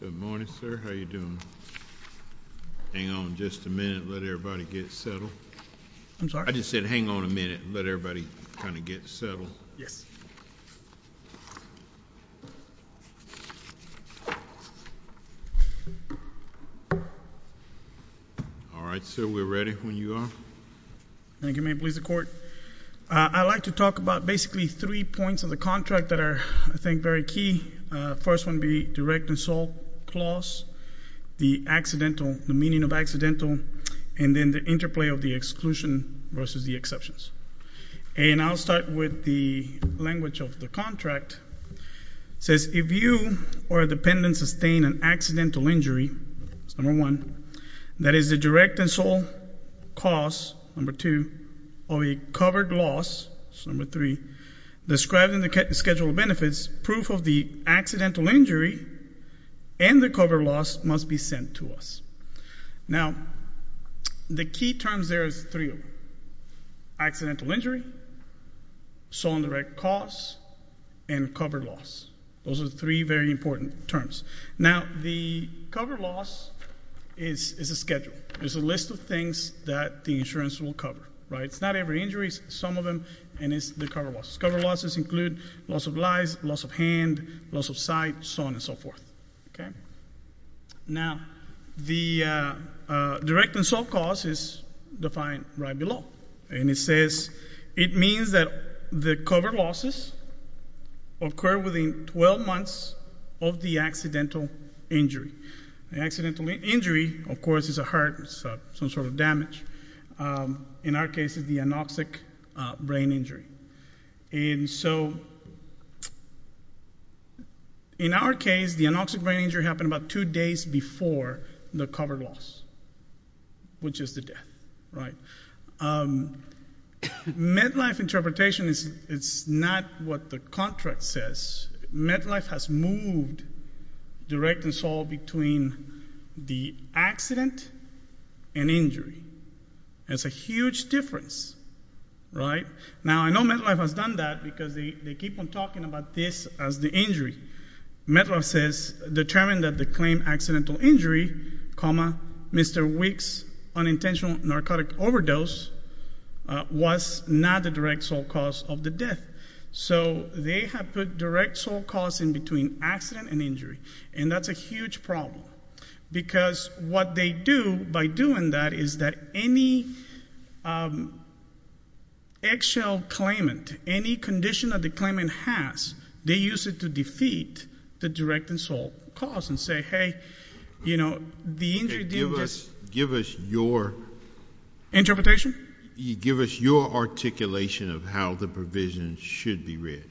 Good morning, sir. How are you doing? Hang on just a minute. Let everybody get settled. I'm sorry? I just said hang on a minute. Let everybody kind of get settled. Yes. All right, sir. We're ready when you are. Thank you. May it please the court. I'd like to talk about basically three points of the contract that are, I think, very key. The first one would be direct and sole clause, the accidental, the meaning of accidental, and then the interplay of the exclusion versus the exceptions. And I'll start with the language of the contract. It says if you or a dependent sustained an accidental injury, number one, that is the direct and sole clause, number two, of a covered loss, number three, described in the schedule of benefits, proof of the accidental injury and the covered loss must be sent to us. Now, the key terms there are three of them, accidental injury, sole and direct clause, and covered loss. Those are three very important terms. Now, the covered loss is a schedule. It's a list of things that the insurance will cover. It's not every injury. It's some of them, and it's the covered loss. Covered losses include loss of lives, loss of hand, loss of sight, so on and so forth. Now, the direct and sole clause is defined right below, and it says it means that the covered losses occur within 12 months of the accidental injury. The accidental injury, of course, is a heart, some sort of damage. In our case, it's the anoxic brain injury. In our case, the anoxic brain injury happened about two days before the covered loss, which is the death. Medlife interpretation is not what the contract says. Medlife has moved direct and sole between the accident and injury. It's a huge difference, right? Now, I know Medlife has done that because they keep on talking about this as the injury. Medlife says determine that the claim accidental injury, Mr. Wick's unintentional narcotic overdose was not the direct sole cause of the death. So they have put direct sole cause in between accident and injury, and that's a huge problem because what they do by doing that is that any eggshell claimant, any condition that the claimant has, they use it to defeat the direct and sole cause and say, hey, you know, the injury didn't just— Okay, give us your— Interpretation? Give us your articulation of how the provision should be read.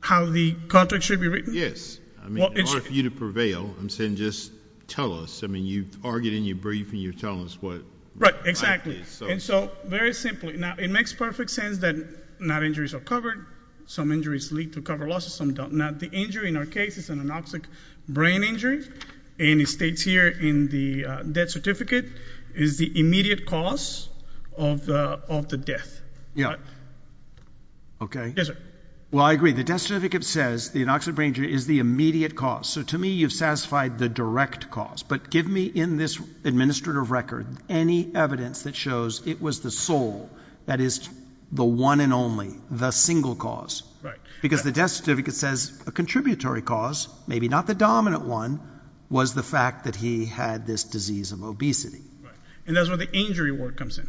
How the contract should be written? Yes. I mean, in order for you to prevail, I'm saying just tell us. I mean, you've argued and you've briefed and you're telling us what— Right, exactly. And so very simply, now, it makes perfect sense that not injuries are covered. Some injuries lead to covered losses, some don't. Now, the injury in our case is an anoxic brain injury, and it states here in the death certificate is the immediate cause of the death. Yeah. Okay. Yes, sir. Well, I agree. The death certificate says the anoxic brain injury is the immediate cause. So to me, you've satisfied the direct cause, but give me in this administrative record any evidence that shows it was the sole, that is, the one and only, the single cause. Right. Because the death certificate says a contributory cause, maybe not the dominant one, was the fact that he had this disease of obesity. Right. And that's where the injury word comes in,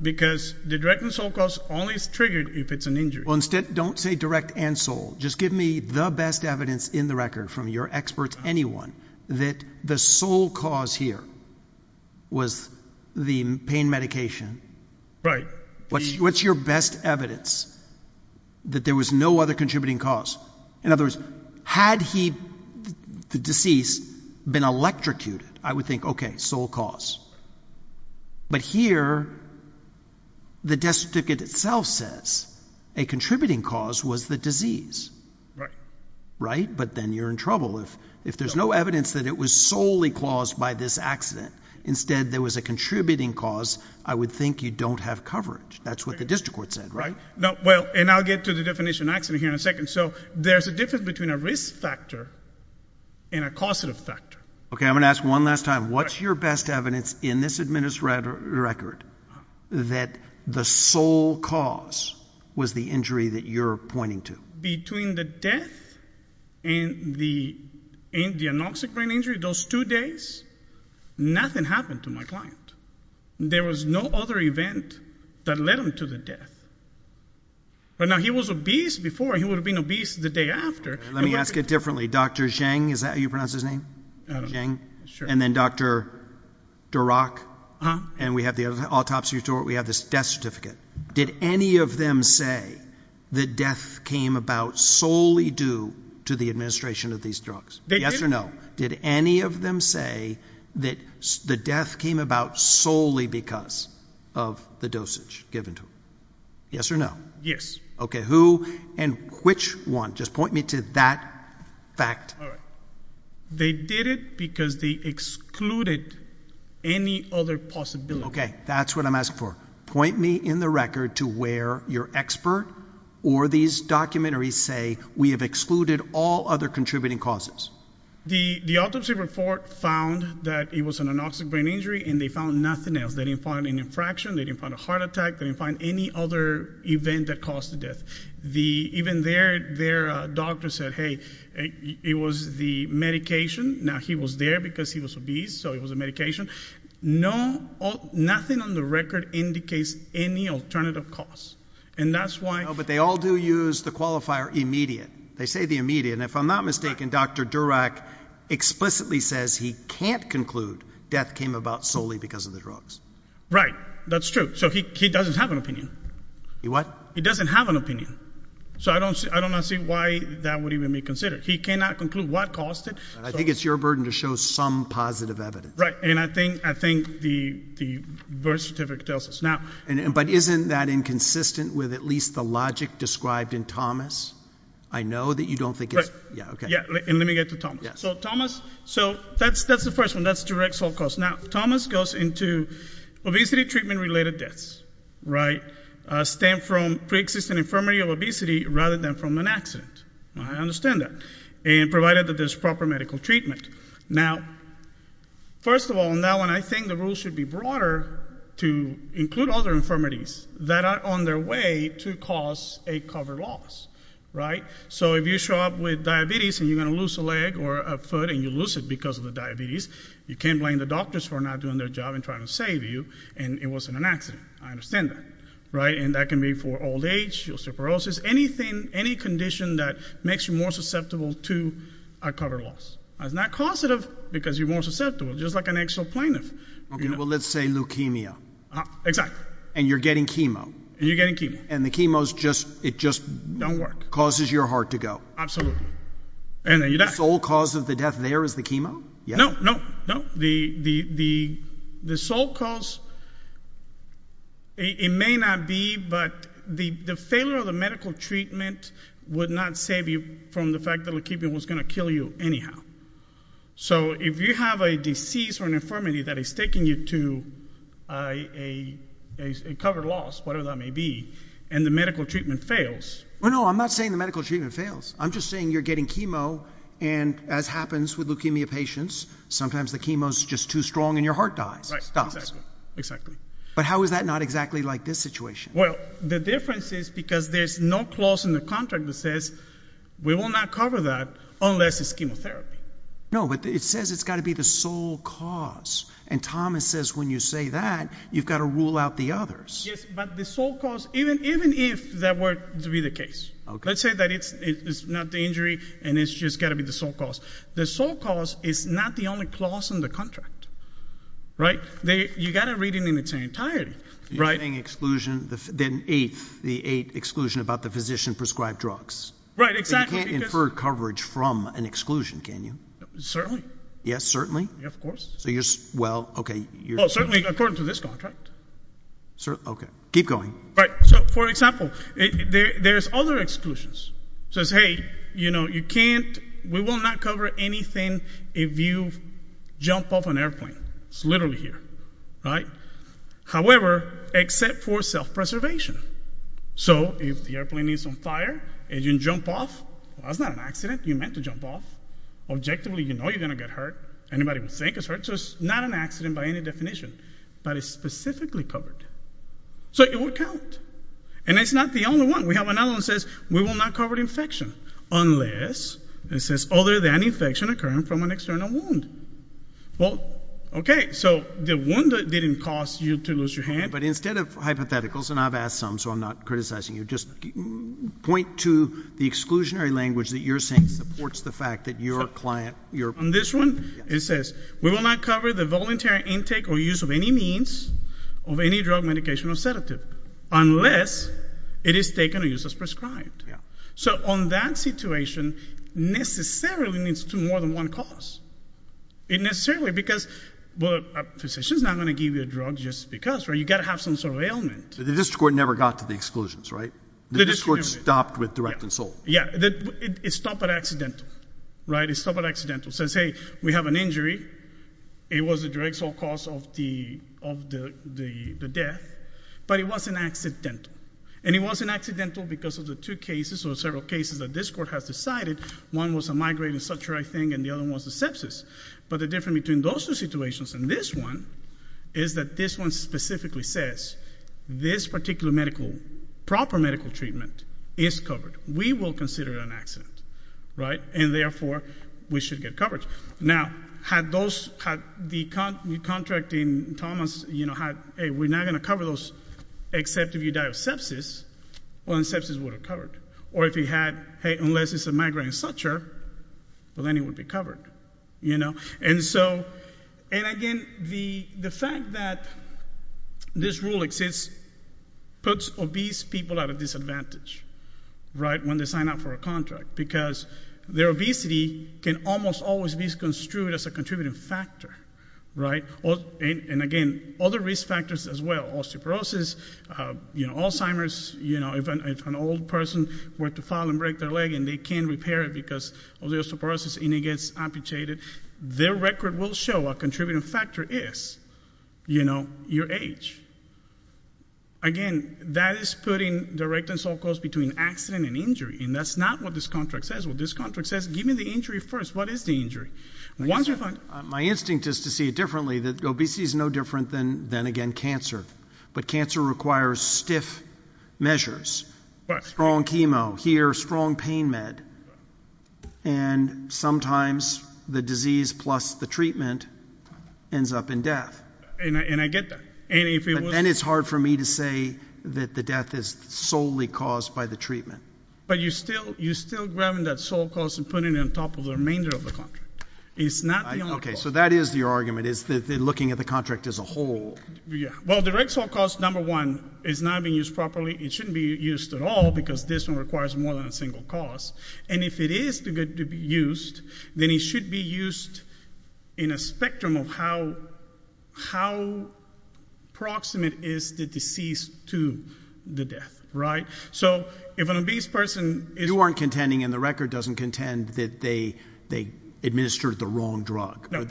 because the direct and sole cause only is triggered if it's an injury. Well, instead, don't say direct and sole. Just give me the best evidence in the record from your experts, anyone, that the sole cause here was the pain medication. Right. What's your best evidence that there was no other contributing cause? In other words, had he, the deceased, been electrocuted, I would think, okay, sole cause. But here, the death certificate itself says a contributing cause was the disease. Right. Right? But then you're in trouble. If there's no evidence that it was solely caused by this accident, instead there was a contributing cause, I would think you don't have coverage. That's what the district court said, right? Well, and I'll get to the definition of accident here in a second. So there's a difference between a risk factor and a causative factor. Okay, I'm going to ask one last time. What's your best evidence in this administrative record that the sole cause was the injury that you're pointing to? Between the death and the anoxic brain injury, those two days, nothing happened to my client. There was no other event that led him to the death. Now, he was obese before, and he would have been obese the day after. Let me ask it differently. Dr. Zhang, is that how you pronounce his name? Zhang. And then Dr. Durack, and we have the autopsy report, we have this death certificate. Did any of them say the death came about solely due to the administration of these drugs? Yes or no? Did any of them say that the death came about solely because of the dosage given to him? Yes or no? Yes. Okay. Who and which one? Just point me to that fact. All right. They did it because they excluded any other possibility. Okay, that's what I'm asking for. Point me in the record to where your expert or these documentaries say, we have excluded all other contributing causes. The autopsy report found that it was an anoxic brain injury, and they found nothing else. They didn't find an infraction. They didn't find a heart attack. They didn't find any other event that caused the death. Even their doctor said, hey, it was the medication. Now, he was there because he was obese, so it was a medication. Nothing on the record indicates any alternative cause, and that's why... No, but they all do use the qualifier immediate. They say the immediate, and if I'm not mistaken, Dr. Durack explicitly says he can't conclude death came about solely because of the drugs. Right. That's true. So he doesn't have an opinion. He what? He doesn't have an opinion, so I don't see why that would even be considered. He cannot conclude what caused it. I think it's your burden to show some positive evidence. Right, and I think the birth certificate tells us. But isn't that inconsistent with at least the logic described in Thomas? I know that you don't think it's... Yeah, and let me get to Thomas. So Thomas, that's the first one. That's direct sole cause. Now, Thomas goes into obesity-treatment-related deaths, right? Stem from pre-existing infirmity or obesity rather than from an accident. I understand that, provided that there's proper medical treatment. Now, first of all, now when I think the rules should be broader to include other infirmities that are on their way to cause a covered loss, right? So if you show up with diabetes and you're going to lose a leg or a foot and you lose it because of the diabetes, you can't blame the doctors for not doing their job and trying to save you, and it wasn't an accident. I understand that, right? And that can be for old age, osteoporosis, anything, any condition that makes you more susceptible to a covered loss. It's not causative because you're more susceptible, just like an actual plaintiff. Okay, well, let's say leukemia. Exactly. And you're getting chemo. And you're getting chemo. And the chemo's just... It just... Don't work. Causes your heart to go. Absolutely. And then you die. The sole cause of the death there is the chemo? No, no, no. The sole cause, it may not be, but the failure of the medical treatment would not save you from the fact that leukemia was going to kill you anyhow. So if you have a disease or an infirmity that is taking you to a covered loss, whatever that may be, and the medical treatment fails... Well, no, I'm not saying the medical treatment fails. I'm just saying you're getting chemo, and as happens with leukemia patients, sometimes the chemo's just too strong and your heart dies. Right, exactly. But how is that not exactly like this situation? Well, the difference is because there's no clause in the contract that says, we will not cover that unless it's chemotherapy. No, but it says it's got to be the sole cause. And Thomas says when you say that, you've got to rule out the others. Yes, but the sole cause, even if that were to be the case. Let's say that it's not the injury and it's just got to be the sole cause. The sole cause is not the only clause in the contract. You've got to read it in its entirety. You're saying exclusion, the eighth exclusion about the physician-prescribed drugs. Right, exactly. You can't infer coverage from an exclusion, can you? Certainly. Yes, certainly? Yes, of course. Well, okay. Well, certainly according to this contract. Okay. Keep going. Right, so for example, there's other exclusions. It says, hey, you know, you can't, we will not cover anything if you jump off an airplane. It's literally here, right? However, except for self-preservation. So if the airplane is on fire and you jump off, that's not an accident. You're meant to jump off. Objectively, you know you're going to get hurt. Anybody would think it's hurt. So it's not an accident by any definition. But it's specifically covered. So it would count. And it's not the only one. We have another one that says we will not cover infection unless it says other than infection occurring from an external wound. Well, okay, so the wound didn't cause you to lose your hand. But instead of hypotheticals, and I've asked some, so I'm not criticizing you, just point to the exclusionary language that you're saying supports the fact that your client, your... On this one, it says we will not cover the voluntary intake or use of any means of any drug, medication, or sedative unless it is taken or used as prescribed. So on that situation, necessarily it needs to do more than one cause. Necessarily, because a physician's not going to give you a drug just because, right? You've got to have some sort of ailment. The district court never got to the exclusions, right? The district court stopped with direct and sole. Yeah, it stopped at accidental, right? It stopped at accidental. So say we have an injury. It was a direct sole cause of the death. But it wasn't accidental. And it wasn't accidental because of the two cases or several cases that this court has decided. One was a migraine and such, I think, and the other one was a sepsis. But the difference between those two situations and this one is that this one specifically says this particular medical, proper medical treatment is covered. We will consider it an accident, right? And therefore, we should get coverage. Now, had the contract in Thomas had, hey, we're not going to cover those except if you die of sepsis, well, then sepsis would have covered. Or if it had, hey, unless it's a migraine and such, well, then it would be covered, you know? And, again, the fact that this rule exists puts obese people at a disadvantage, right, when they sign up for a contract because their obesity can almost always be construed as a contributing factor, right? And, again, other risk factors as well, osteoporosis, you know, Alzheimer's, you know, if an old person were to fall and break their leg and they can't repair it because of the osteoporosis and it gets amputated, their record will show a contributing factor is, you know, your age. Again, that is putting direct and sole cause between accident and injury, and that's not what this contract says. What this contract says, give me the injury first. What is the injury? My instinct is to see it differently, that obesity is no different than, again, cancer, but cancer requires stiff measures, strong chemo, here, strong pain med, and sometimes the disease plus the treatment ends up in death. And I get that. But then it's hard for me to say that the death is solely caused by the treatment. But you're still grabbing that sole cause and putting it on top of the remainder of the contract. It's not the only cause. Okay, so that is your argument, is looking at the contract as a whole. Well, direct sole cause, number one, is not being used properly. It shouldn't be used at all because this one requires more than a single cause. And if it is to be used, then it should be used in a spectrum of how proximate is the disease to the death, right? So if an obese person is... You aren't contending, and the record doesn't contend, that they administered the wrong drug. No.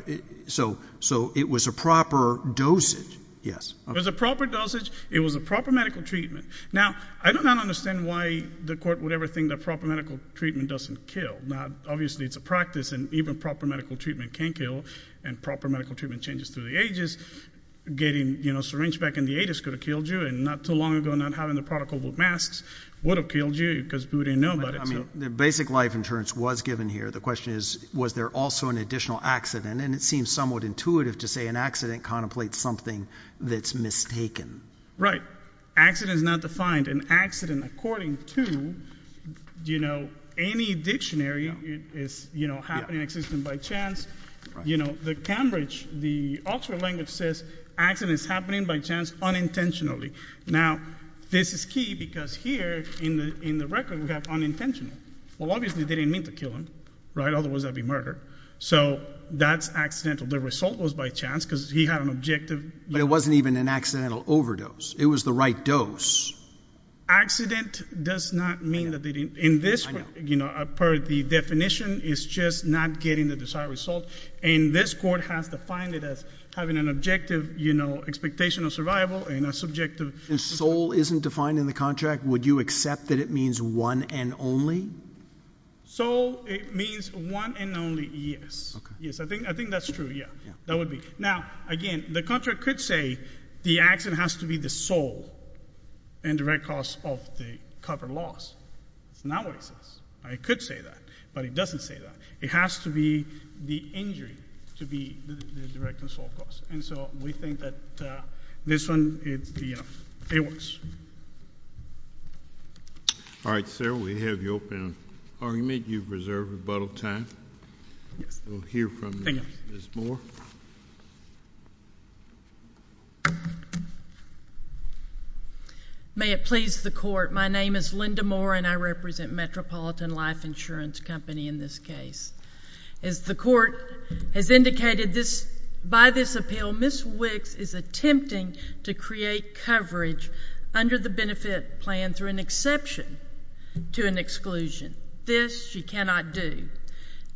So it was a proper dosage, yes. It was a proper dosage. It was a proper medical treatment. Now, I do not understand why the court would ever think that proper medical treatment doesn't kill. Now, obviously, it's a practice, and even proper medical treatment can kill. And proper medical treatment changes through the ages. Getting syringe back in the atis could have killed you. And not too long ago, not having the protocol with masks would have killed you because who would have known about it? I mean, the basic life insurance was given here. The question is, was there also an additional accident? And it seems somewhat intuitive to say an accident contemplates something that's mistaken. Right. Accident is not defined. An accident according to, you know, any dictionary is, you know, happening, existing by chance. You know, the Cambridge, the Oxford language says accident is happening by chance unintentionally. Now, this is key because here in the record we have unintentional. Well, obviously, they didn't mean to kill him, right? Otherwise, that would be murder. So that's accidental. The result was by chance because he had an objective. But it wasn't even an accidental overdose. It was the right dose. Accident does not mean that they didn't. In this, you know, per the definition, it's just not getting the desired result. And this court has defined it as having an objective, you know, expectation of survival and a subjective. If soul isn't defined in the contract, would you accept that it means one and only? Soul, it means one and only, yes. Yes, I think that's true, yeah. That would be. Now, again, the contract could say the accident has to be the soul and direct cause of the covered loss. That's not what it says. It could say that. But it doesn't say that. It has to be the injury to be the direct and sole cause. And so we think that this one, you know, it works. All right, sir, we have you open an argument. You've reserved rebuttal time. Yes. We'll hear from Ms. Moore. May it please the court, my name is Linda Moore and I represent Metropolitan Life Insurance Company in this case. As the court has indicated by this appeal, Ms. Wicks is attempting to create coverage under the benefit plan through an exception to an exclusion. This she cannot do.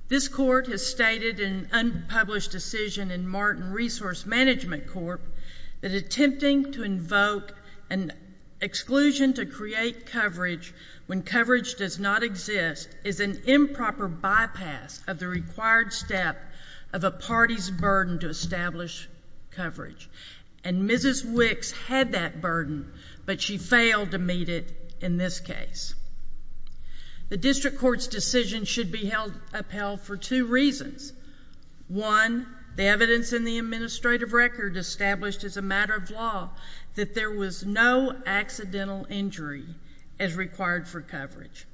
This court has stated in an unpublished decision in Martin Resource Management Corp. that attempting to invoke an exclusion to create coverage when coverage does not exist is an improper bypass of the required step of a party's burden to establish coverage. And Mrs. Wicks had that burden, but she failed to meet it in this case. The district court's decision should be upheld for two reasons. One, the evidence in the administrative record established as a matter of law that there was no accidental injury as required for coverage.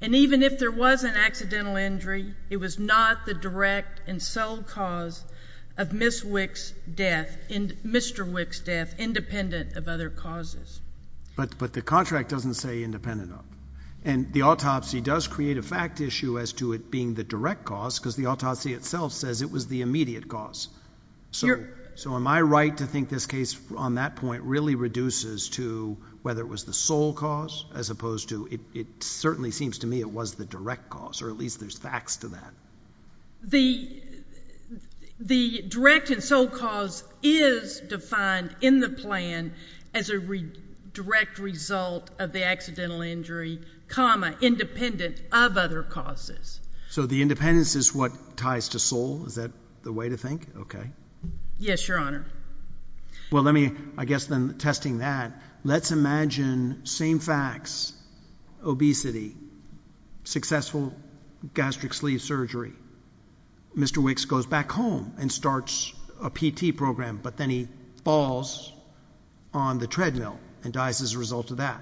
And even if there was an accidental injury, it was not the direct and sole cause of Mr. Wicks' death independent of other causes. But the contract doesn't say independent of. And the autopsy does create a fact issue as to it being the direct cause because the autopsy itself says it was the immediate cause. So am I right to think this case on that point really reduces to whether it was the sole cause as opposed to it certainly seems to me it was the direct cause, or at least there's facts to that. The direct and sole cause is defined in the plan as a direct result of the accidental injury, independent of other causes. So the independence is what ties to sole? Is that the way to think? Okay. Yes, Your Honor. Well, I guess then testing that, let's imagine same facts, obesity, successful gastric sleeve surgery. Mr. Wicks goes back home and starts a PT program, but then he falls on the treadmill and dies as a result of that.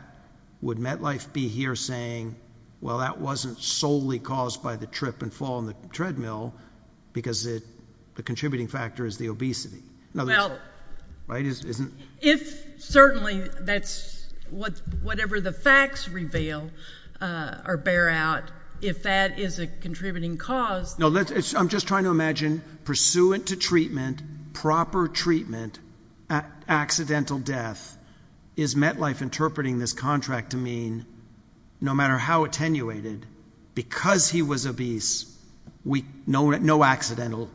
Would MetLife be here saying, well, that wasn't solely caused by the trip and fall on the treadmill because the contributing factor is the obesity? Well, if certainly that's whatever the facts reveal or bear out, if that is a contributing cause. No, I'm just trying to imagine pursuant to treatment, proper treatment, accidental death, is MetLife interpreting this contract to mean no matter how attenuated, because he was obese, no accidental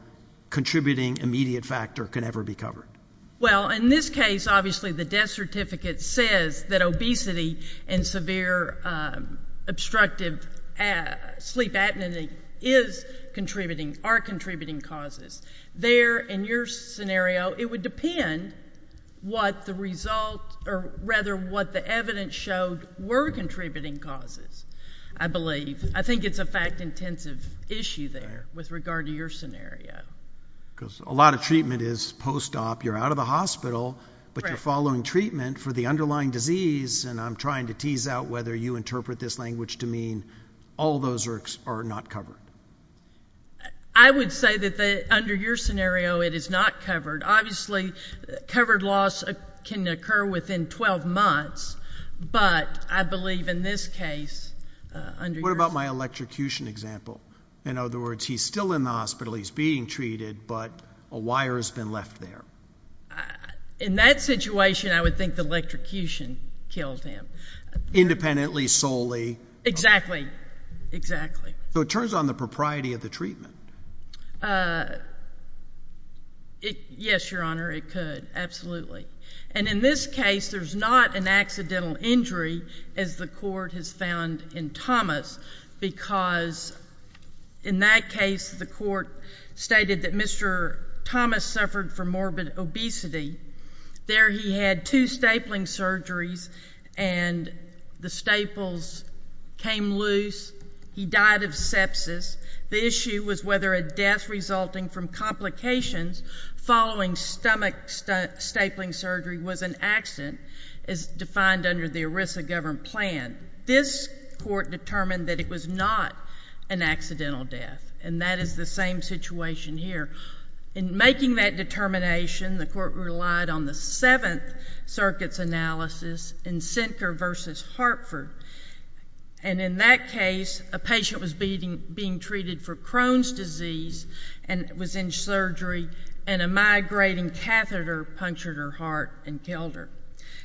contributing immediate factor can ever be covered? Well, in this case, obviously the death certificate says that obesity and severe obstructive sleep apnea is contributing, are contributing causes. There, in your scenario, it would depend what the result, or rather what the evidence showed were contributing causes, I believe. I think it's a fact-intensive issue there with regard to your scenario. Because a lot of treatment is post-op. You're out of the hospital, but you're following treatment for the underlying disease, and I'm trying to tease out whether you interpret this language to mean all those are not covered. I would say that under your scenario it is not covered. Obviously, covered loss can occur within 12 months, but I believe in this case under your scenario. What about my electrocution example? In other words, he's still in the hospital, he's being treated, but a wire has been left there. In that situation, I would think the electrocution killed him. Independently, solely. Exactly, exactly. So it turns on the propriety of the treatment. Yes, Your Honor, it could, absolutely. And in this case, there's not an accidental injury, as the court has found in Thomas, because in that case the court stated that Mr. Thomas suffered from morbid obesity. There he had two stapling surgeries, and the staples came loose. He died of sepsis. The issue was whether a death resulting from complications following stomach stapling surgery was an accident, as defined under the ERISA-governed plan. This court determined that it was not an accidental death, and that is the same situation here. In making that determination, the court relied on the Seventh Circuit's analysis in Sinker v. Hartford. And in that case, a patient was being treated for Crohn's disease and was in surgery, and a migrating catheter punctured her heart and killed her.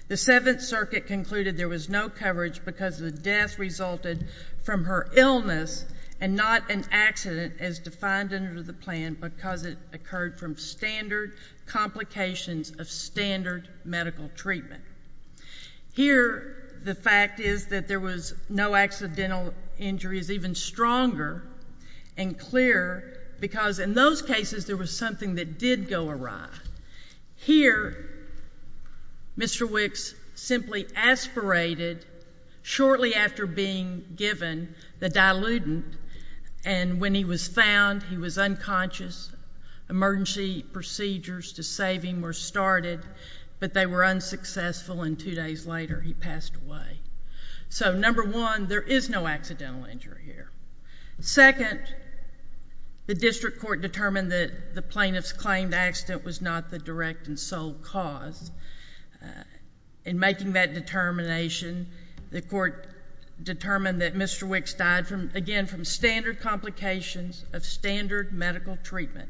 The Seventh Circuit concluded there was no coverage because the death resulted from her illness and not an accident, as defined under the plan, because it occurred from standard complications of standard medical treatment. Here, the fact is that there was no accidental injury is even stronger and clearer, because in those cases there was something that did go awry. Here, Mr. Wicks simply aspirated shortly after being given the dilutant, and when he was found, he was unconscious. Emergency procedures to save him were started, but they were unsuccessful, and two days later he passed away. So, number one, there is no accidental injury here. Second, the district court determined that the plaintiff's claimed accident was not the direct and sole cause. In making that determination, the court determined that Mr. Wicks died, again, from standard complications of standard medical treatment.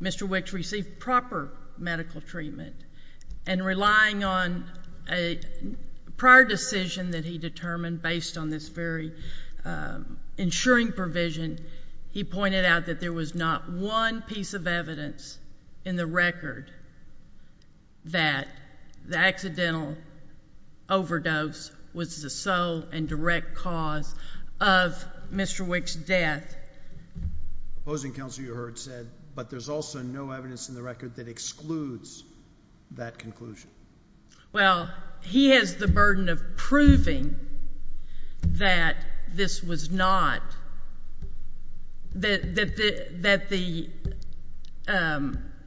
Mr. Wicks received proper medical treatment, and relying on a prior decision that he determined based on this very insuring provision, he pointed out that there was not one piece of evidence in the record that the accidental overdose was the sole and direct cause of Mr. Wicks' death. Opposing counsel, you heard said, but there's also no evidence in the record that excludes that conclusion. Well, he has the burden of proving that this was not, that the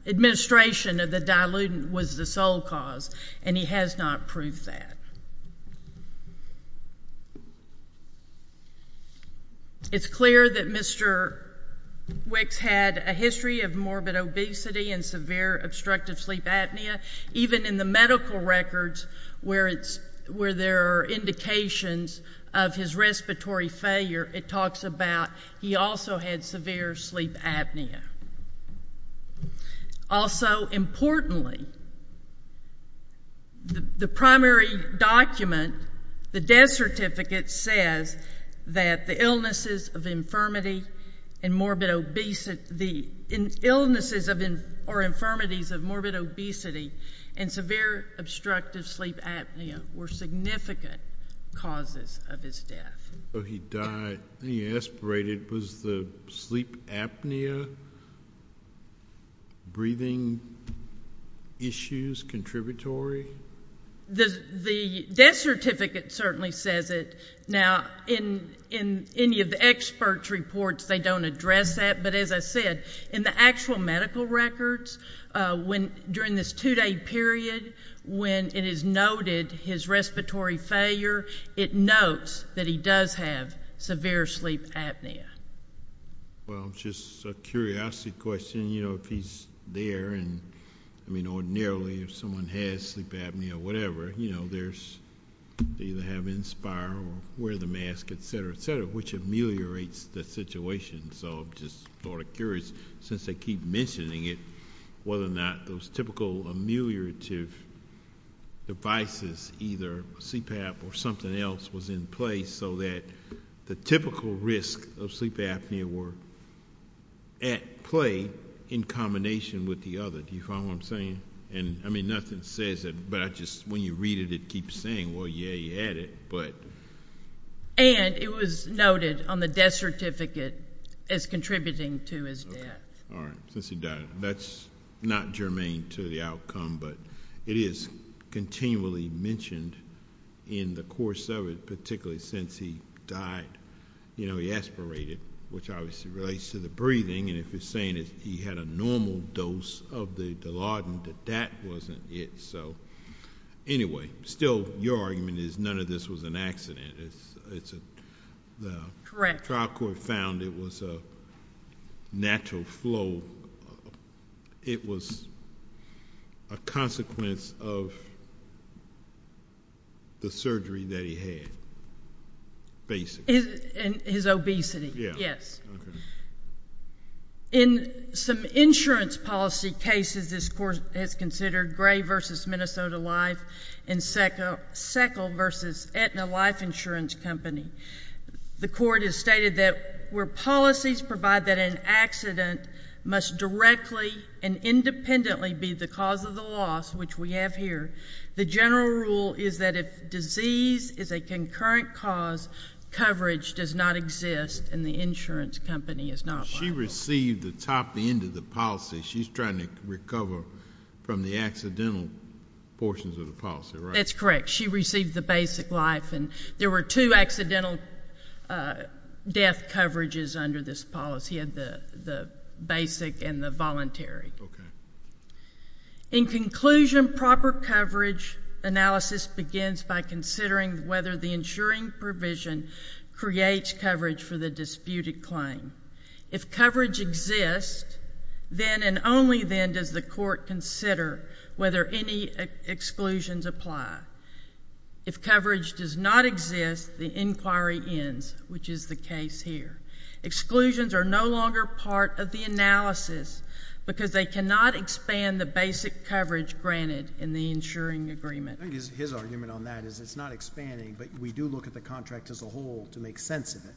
administration of the dilutant was the sole cause, and he has not proved that. It's clear that Mr. Wicks had a history of morbid obesity and severe obstructive sleep apnea. Even in the medical records where there are indications of his respiratory failure, it talks about he also had severe sleep apnea. Also, importantly, the primary document, the death certificate, says that the illnesses of infirmity and morbid obesity, the illnesses or infirmities of morbid obesity and severe obstructive sleep apnea were significant causes of his death. So he died, he aspirated. Was the sleep apnea breathing issues contributory? The death certificate certainly says it. Now, in any of the experts' reports, they don't address that. But as I said, in the actual medical records, during this two-day period, when it is noted his respiratory failure, it notes that he does have severe sleep apnea. Well, just a curiosity question. You know, if he's there, and, I mean, ordinarily, if someone has sleep apnea or whatever, you know, they either have inspire or wear the mask, et cetera, et cetera, which ameliorates the situation. So I'm just sort of curious, since they keep mentioning it, whether or not those typical ameliorative devices, either CPAP or something else, was in place so that the typical risk of sleep apnea were at play in combination with the other. Do you follow what I'm saying? And, I mean, nothing says it, but I just, when you read it, it keeps saying, well, yeah, you had it, but. And it was noted on the death certificate as contributing to his death. All right. Since he died, that's not germane to the outcome, but it is continually mentioned in the course of it, particularly since he died. You know, he aspirated, which obviously relates to the breathing, and if it's saying that he had a normal dose of the Dilaudid, that that wasn't it. So anyway, still, your argument is none of this was an accident. It's a, the trial court found it was a natural flow. It was a consequence of the surgery that he had, basically. His obesity, yes. Okay. In some insurance policy cases, this court has considered Gray v. Minnesota Life and Seckill v. Aetna Life Insurance Company. The court has stated that where policies provide that an accident must directly and independently be the cause of the loss, which we have here, the general rule is that if disease is a concurrent cause, coverage does not exist, and the insurance company is not liable. She received the top end of the policy. She's trying to recover from the accidental portions of the policy, right? That's correct. She received the basic life. And there were two accidental death coverages under this policy, the basic and the voluntary. Okay. In conclusion, proper coverage analysis begins by considering whether the insuring provision creates coverage for the disputed claim. If coverage exists, then and only then does the court consider whether any exclusions apply. If coverage does not exist, the inquiry ends, which is the case here. Exclusions are no longer part of the analysis because they cannot expand the basic coverage granted in the insuring agreement. I think his argument on that is it's not expanding, but we do look at the contract as a whole to make sense of it.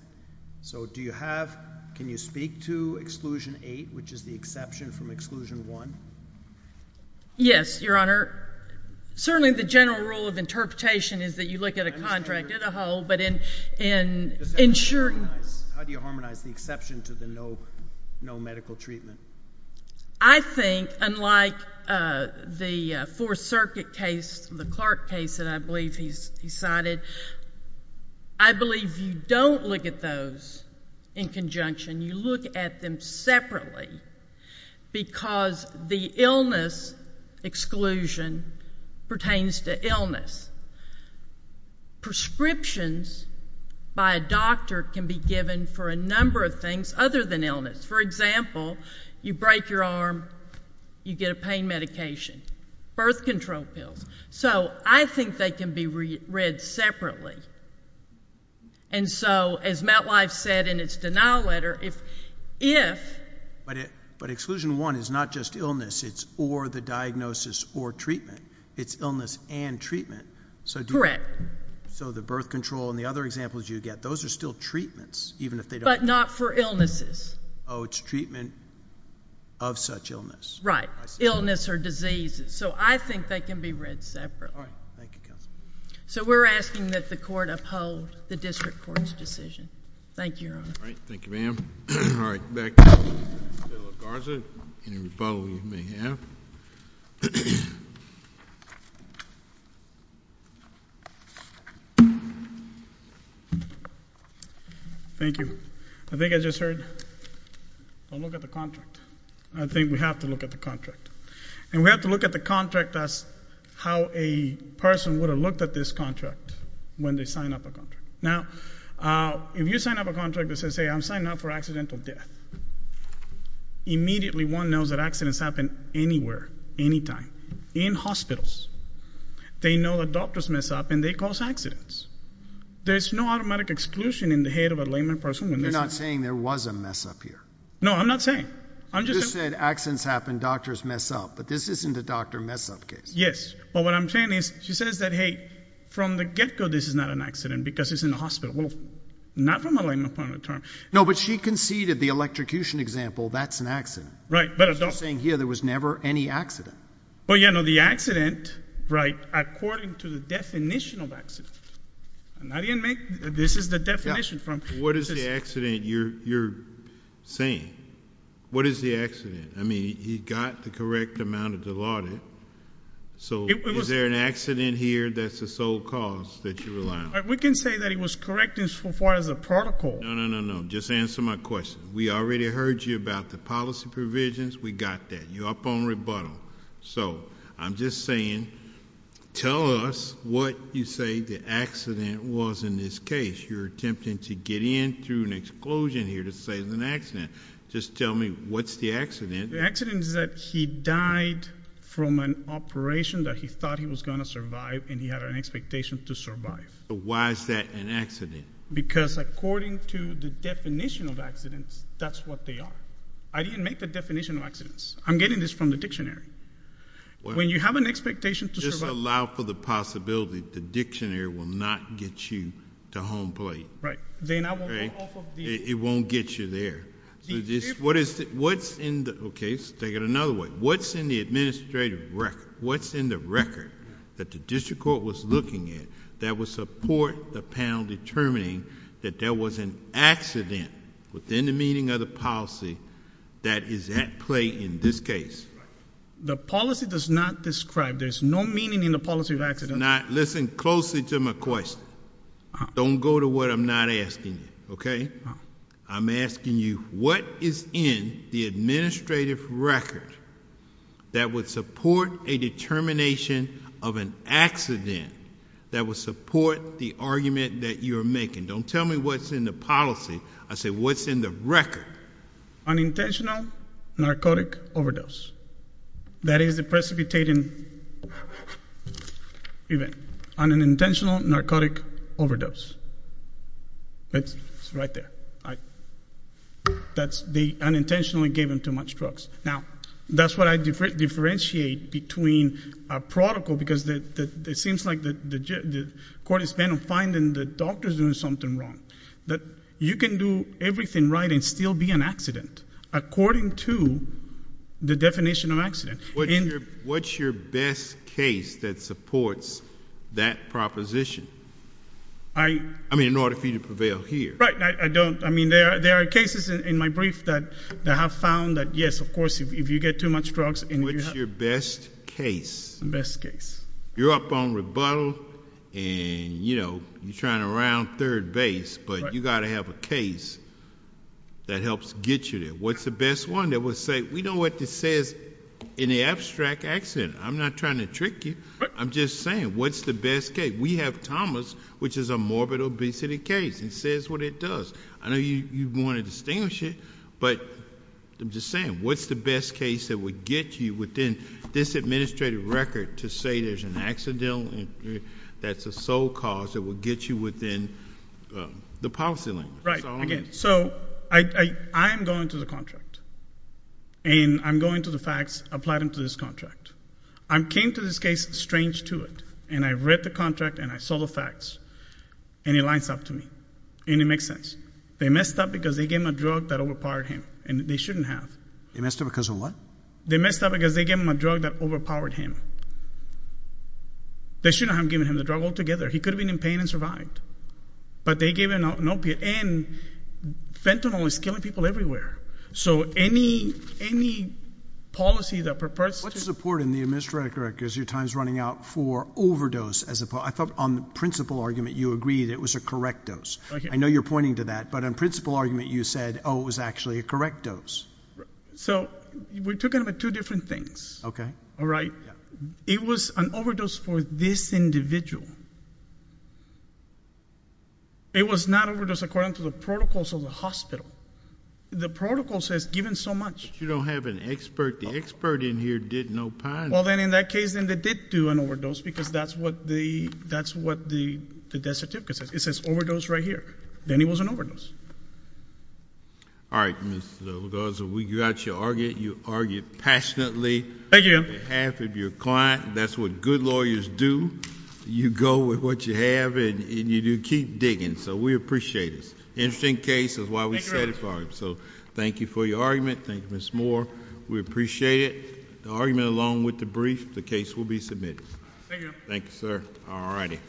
So do you have, can you speak to Exclusion 8, which is the exception from Exclusion 1? Yes, Your Honor. Certainly the general rule of interpretation is that you look at a contract as a whole, but in ensuring How do you harmonize the exception to the no medical treatment? I think, unlike the Fourth Circuit case, the Clark case that I believe he cited, I believe you don't look at those in conjunction. You look at them separately because the illness exclusion pertains to illness. Prescriptions by a doctor can be given for a number of things other than illness. For example, you break your arm, you get a pain medication, birth control pills. So I think they can be read separately. And so as MetLife said in its denial letter, if... But Exclusion 1 is not just illness, it's or the diagnosis or treatment. It's illness and treatment. Correct. So the birth control and the other examples you get, those are still treatments, even if they don't... But not for illnesses. Oh, it's treatment of such illness. Right, illness or diseases. So I think they can be read separately. Thank you, counsel. So we're asking that the court uphold the district court's decision. Thank you, Your Honor. All right. Thank you, ma'am. All right. Back to the Federal of Garza. Any rebuttal you may have. Thank you. I think I just heard, don't look at the contract. I think we have to look at the contract. And we have to look at the contract as how a person would have looked at this contract when they sign up a contract. Now, if you sign up a contract that says, hey, I'm signing up for accidental death, immediately one knows that accidents happen anywhere, anytime, in hospitals. They know that doctors mess up and they cause accidents. There's no automatic exclusion in the head of a layman person when this happens. You're not saying there was a mess up here. No, I'm not saying. You just said accidents happen, doctors mess up. But this isn't a doctor mess up case. Yes. But what I'm saying is she says that, hey, from the get-go this is not an accident because it's in a hospital. Well, not from a layman point of term. No, but she conceded the electrocution example, that's an accident. Right, but a doctor. She's saying here there was never any accident. Well, yeah, no, the accident, right, according to the definition of accident. And I didn't make, this is the definition. What is the accident you're saying? What is the accident? I mean, he got the correct amount of Dilaudid. So is there an accident here that's the sole cause that you rely on? We can say that he was correct as far as the protocol. No, no, no, no, just answer my question. We already heard you about the policy provisions. We got that. You're up on rebuttal. So I'm just saying tell us what you say the accident was in this case. You're attempting to get in through an explosion here to say it was an accident. Just tell me what's the accident. The accident is that he died from an operation that he thought he was going to survive and he had an expectation to survive. But why is that an accident? Because according to the definition of accidents, that's what they are. I didn't make the definition of accidents. I'm getting this from the dictionary. When you have an expectation to survive. If you don't allow for the possibility, the dictionary will not get you to home plate. Right. It won't get you there. Okay, let's take it another way. What's in the administrative record? What's in the record that the district court was looking at that would support the panel determining that there was an accident within the meaning of the policy that is at play in this case? The policy does not describe. There's no meaning in the policy of accidents. Listen closely to my question. Don't go to what I'm not asking you, okay? I'm asking you what is in the administrative record that would support a determination of an accident that would support the argument that you are making? Don't tell me what's in the policy. I say what's in the record. Unintentional narcotic overdose. That is the precipitating event. Unintentional narcotic overdose. It's right there. They unintentionally gave him too much drugs. Now, that's what I differentiate between a protocol because it seems like the court is bent on finding the doctor's doing something wrong, that you can do everything right and still be an accident. According to the definition of accident. What's your best case that supports that proposition? I mean, in order for you to prevail here. Right. I don't. I mean, there are cases in my brief that have found that, yes, of course, if you get too much drugs. What's your best case? Best case. You're up on rebuttal and, you know, you're trying to round third base, but you've got to have a case that helps get you there. What's the best one that would say, we know what this says in the abstract accident. I'm not trying to trick you. I'm just saying, what's the best case? We have Thomas, which is a morbid obesity case, and says what it does. I know you want to distinguish it, but I'm just saying, what's the best case that would get you within this administrative record to say there's an accident that's a sole cause that would get you within the policy language? Right. So I am going to the contract, and I'm going to the facts, apply them to this contract. I came to this case strange to it, and I read the contract, and I saw the facts, and it lines up to me, and it makes sense. They messed up because they gave him a drug that overpowered him, and they shouldn't have. They messed up because of what? They messed up because they gave him a drug that overpowered him. They shouldn't have given him the drug altogether. He could have been in pain and survived, but they gave him an opiate, and fentanyl is killing people everywhere. So any policy that purports to – What support in the administrative record is your times running out for overdose? I thought on the principal argument you agreed it was a correct dose. I know you're pointing to that, but on principal argument you said, oh, it was actually a correct dose. So we're talking about two different things. Okay. All right? Yeah. It was an overdose for this individual. It was not overdose according to the protocols of the hospital. The protocol says given so much. But you don't have an expert. The expert in here did no punishment. Well, then in that case, then they did do an overdose because that's what the death certificate says. It says overdose right here. Then it was an overdose. All right, Mr. Lagarza, we got you argued. You argued passionately. Thank you. On behalf of your client. That's what good lawyers do. You go with what you have, and you do keep digging. So we appreciate it. Interesting case. That's why we set it for him. So thank you for your argument. Thank you, Ms. Moore. We appreciate it. The argument along with the brief, the case will be submitted. Thank you. Thank you, sir. All righty.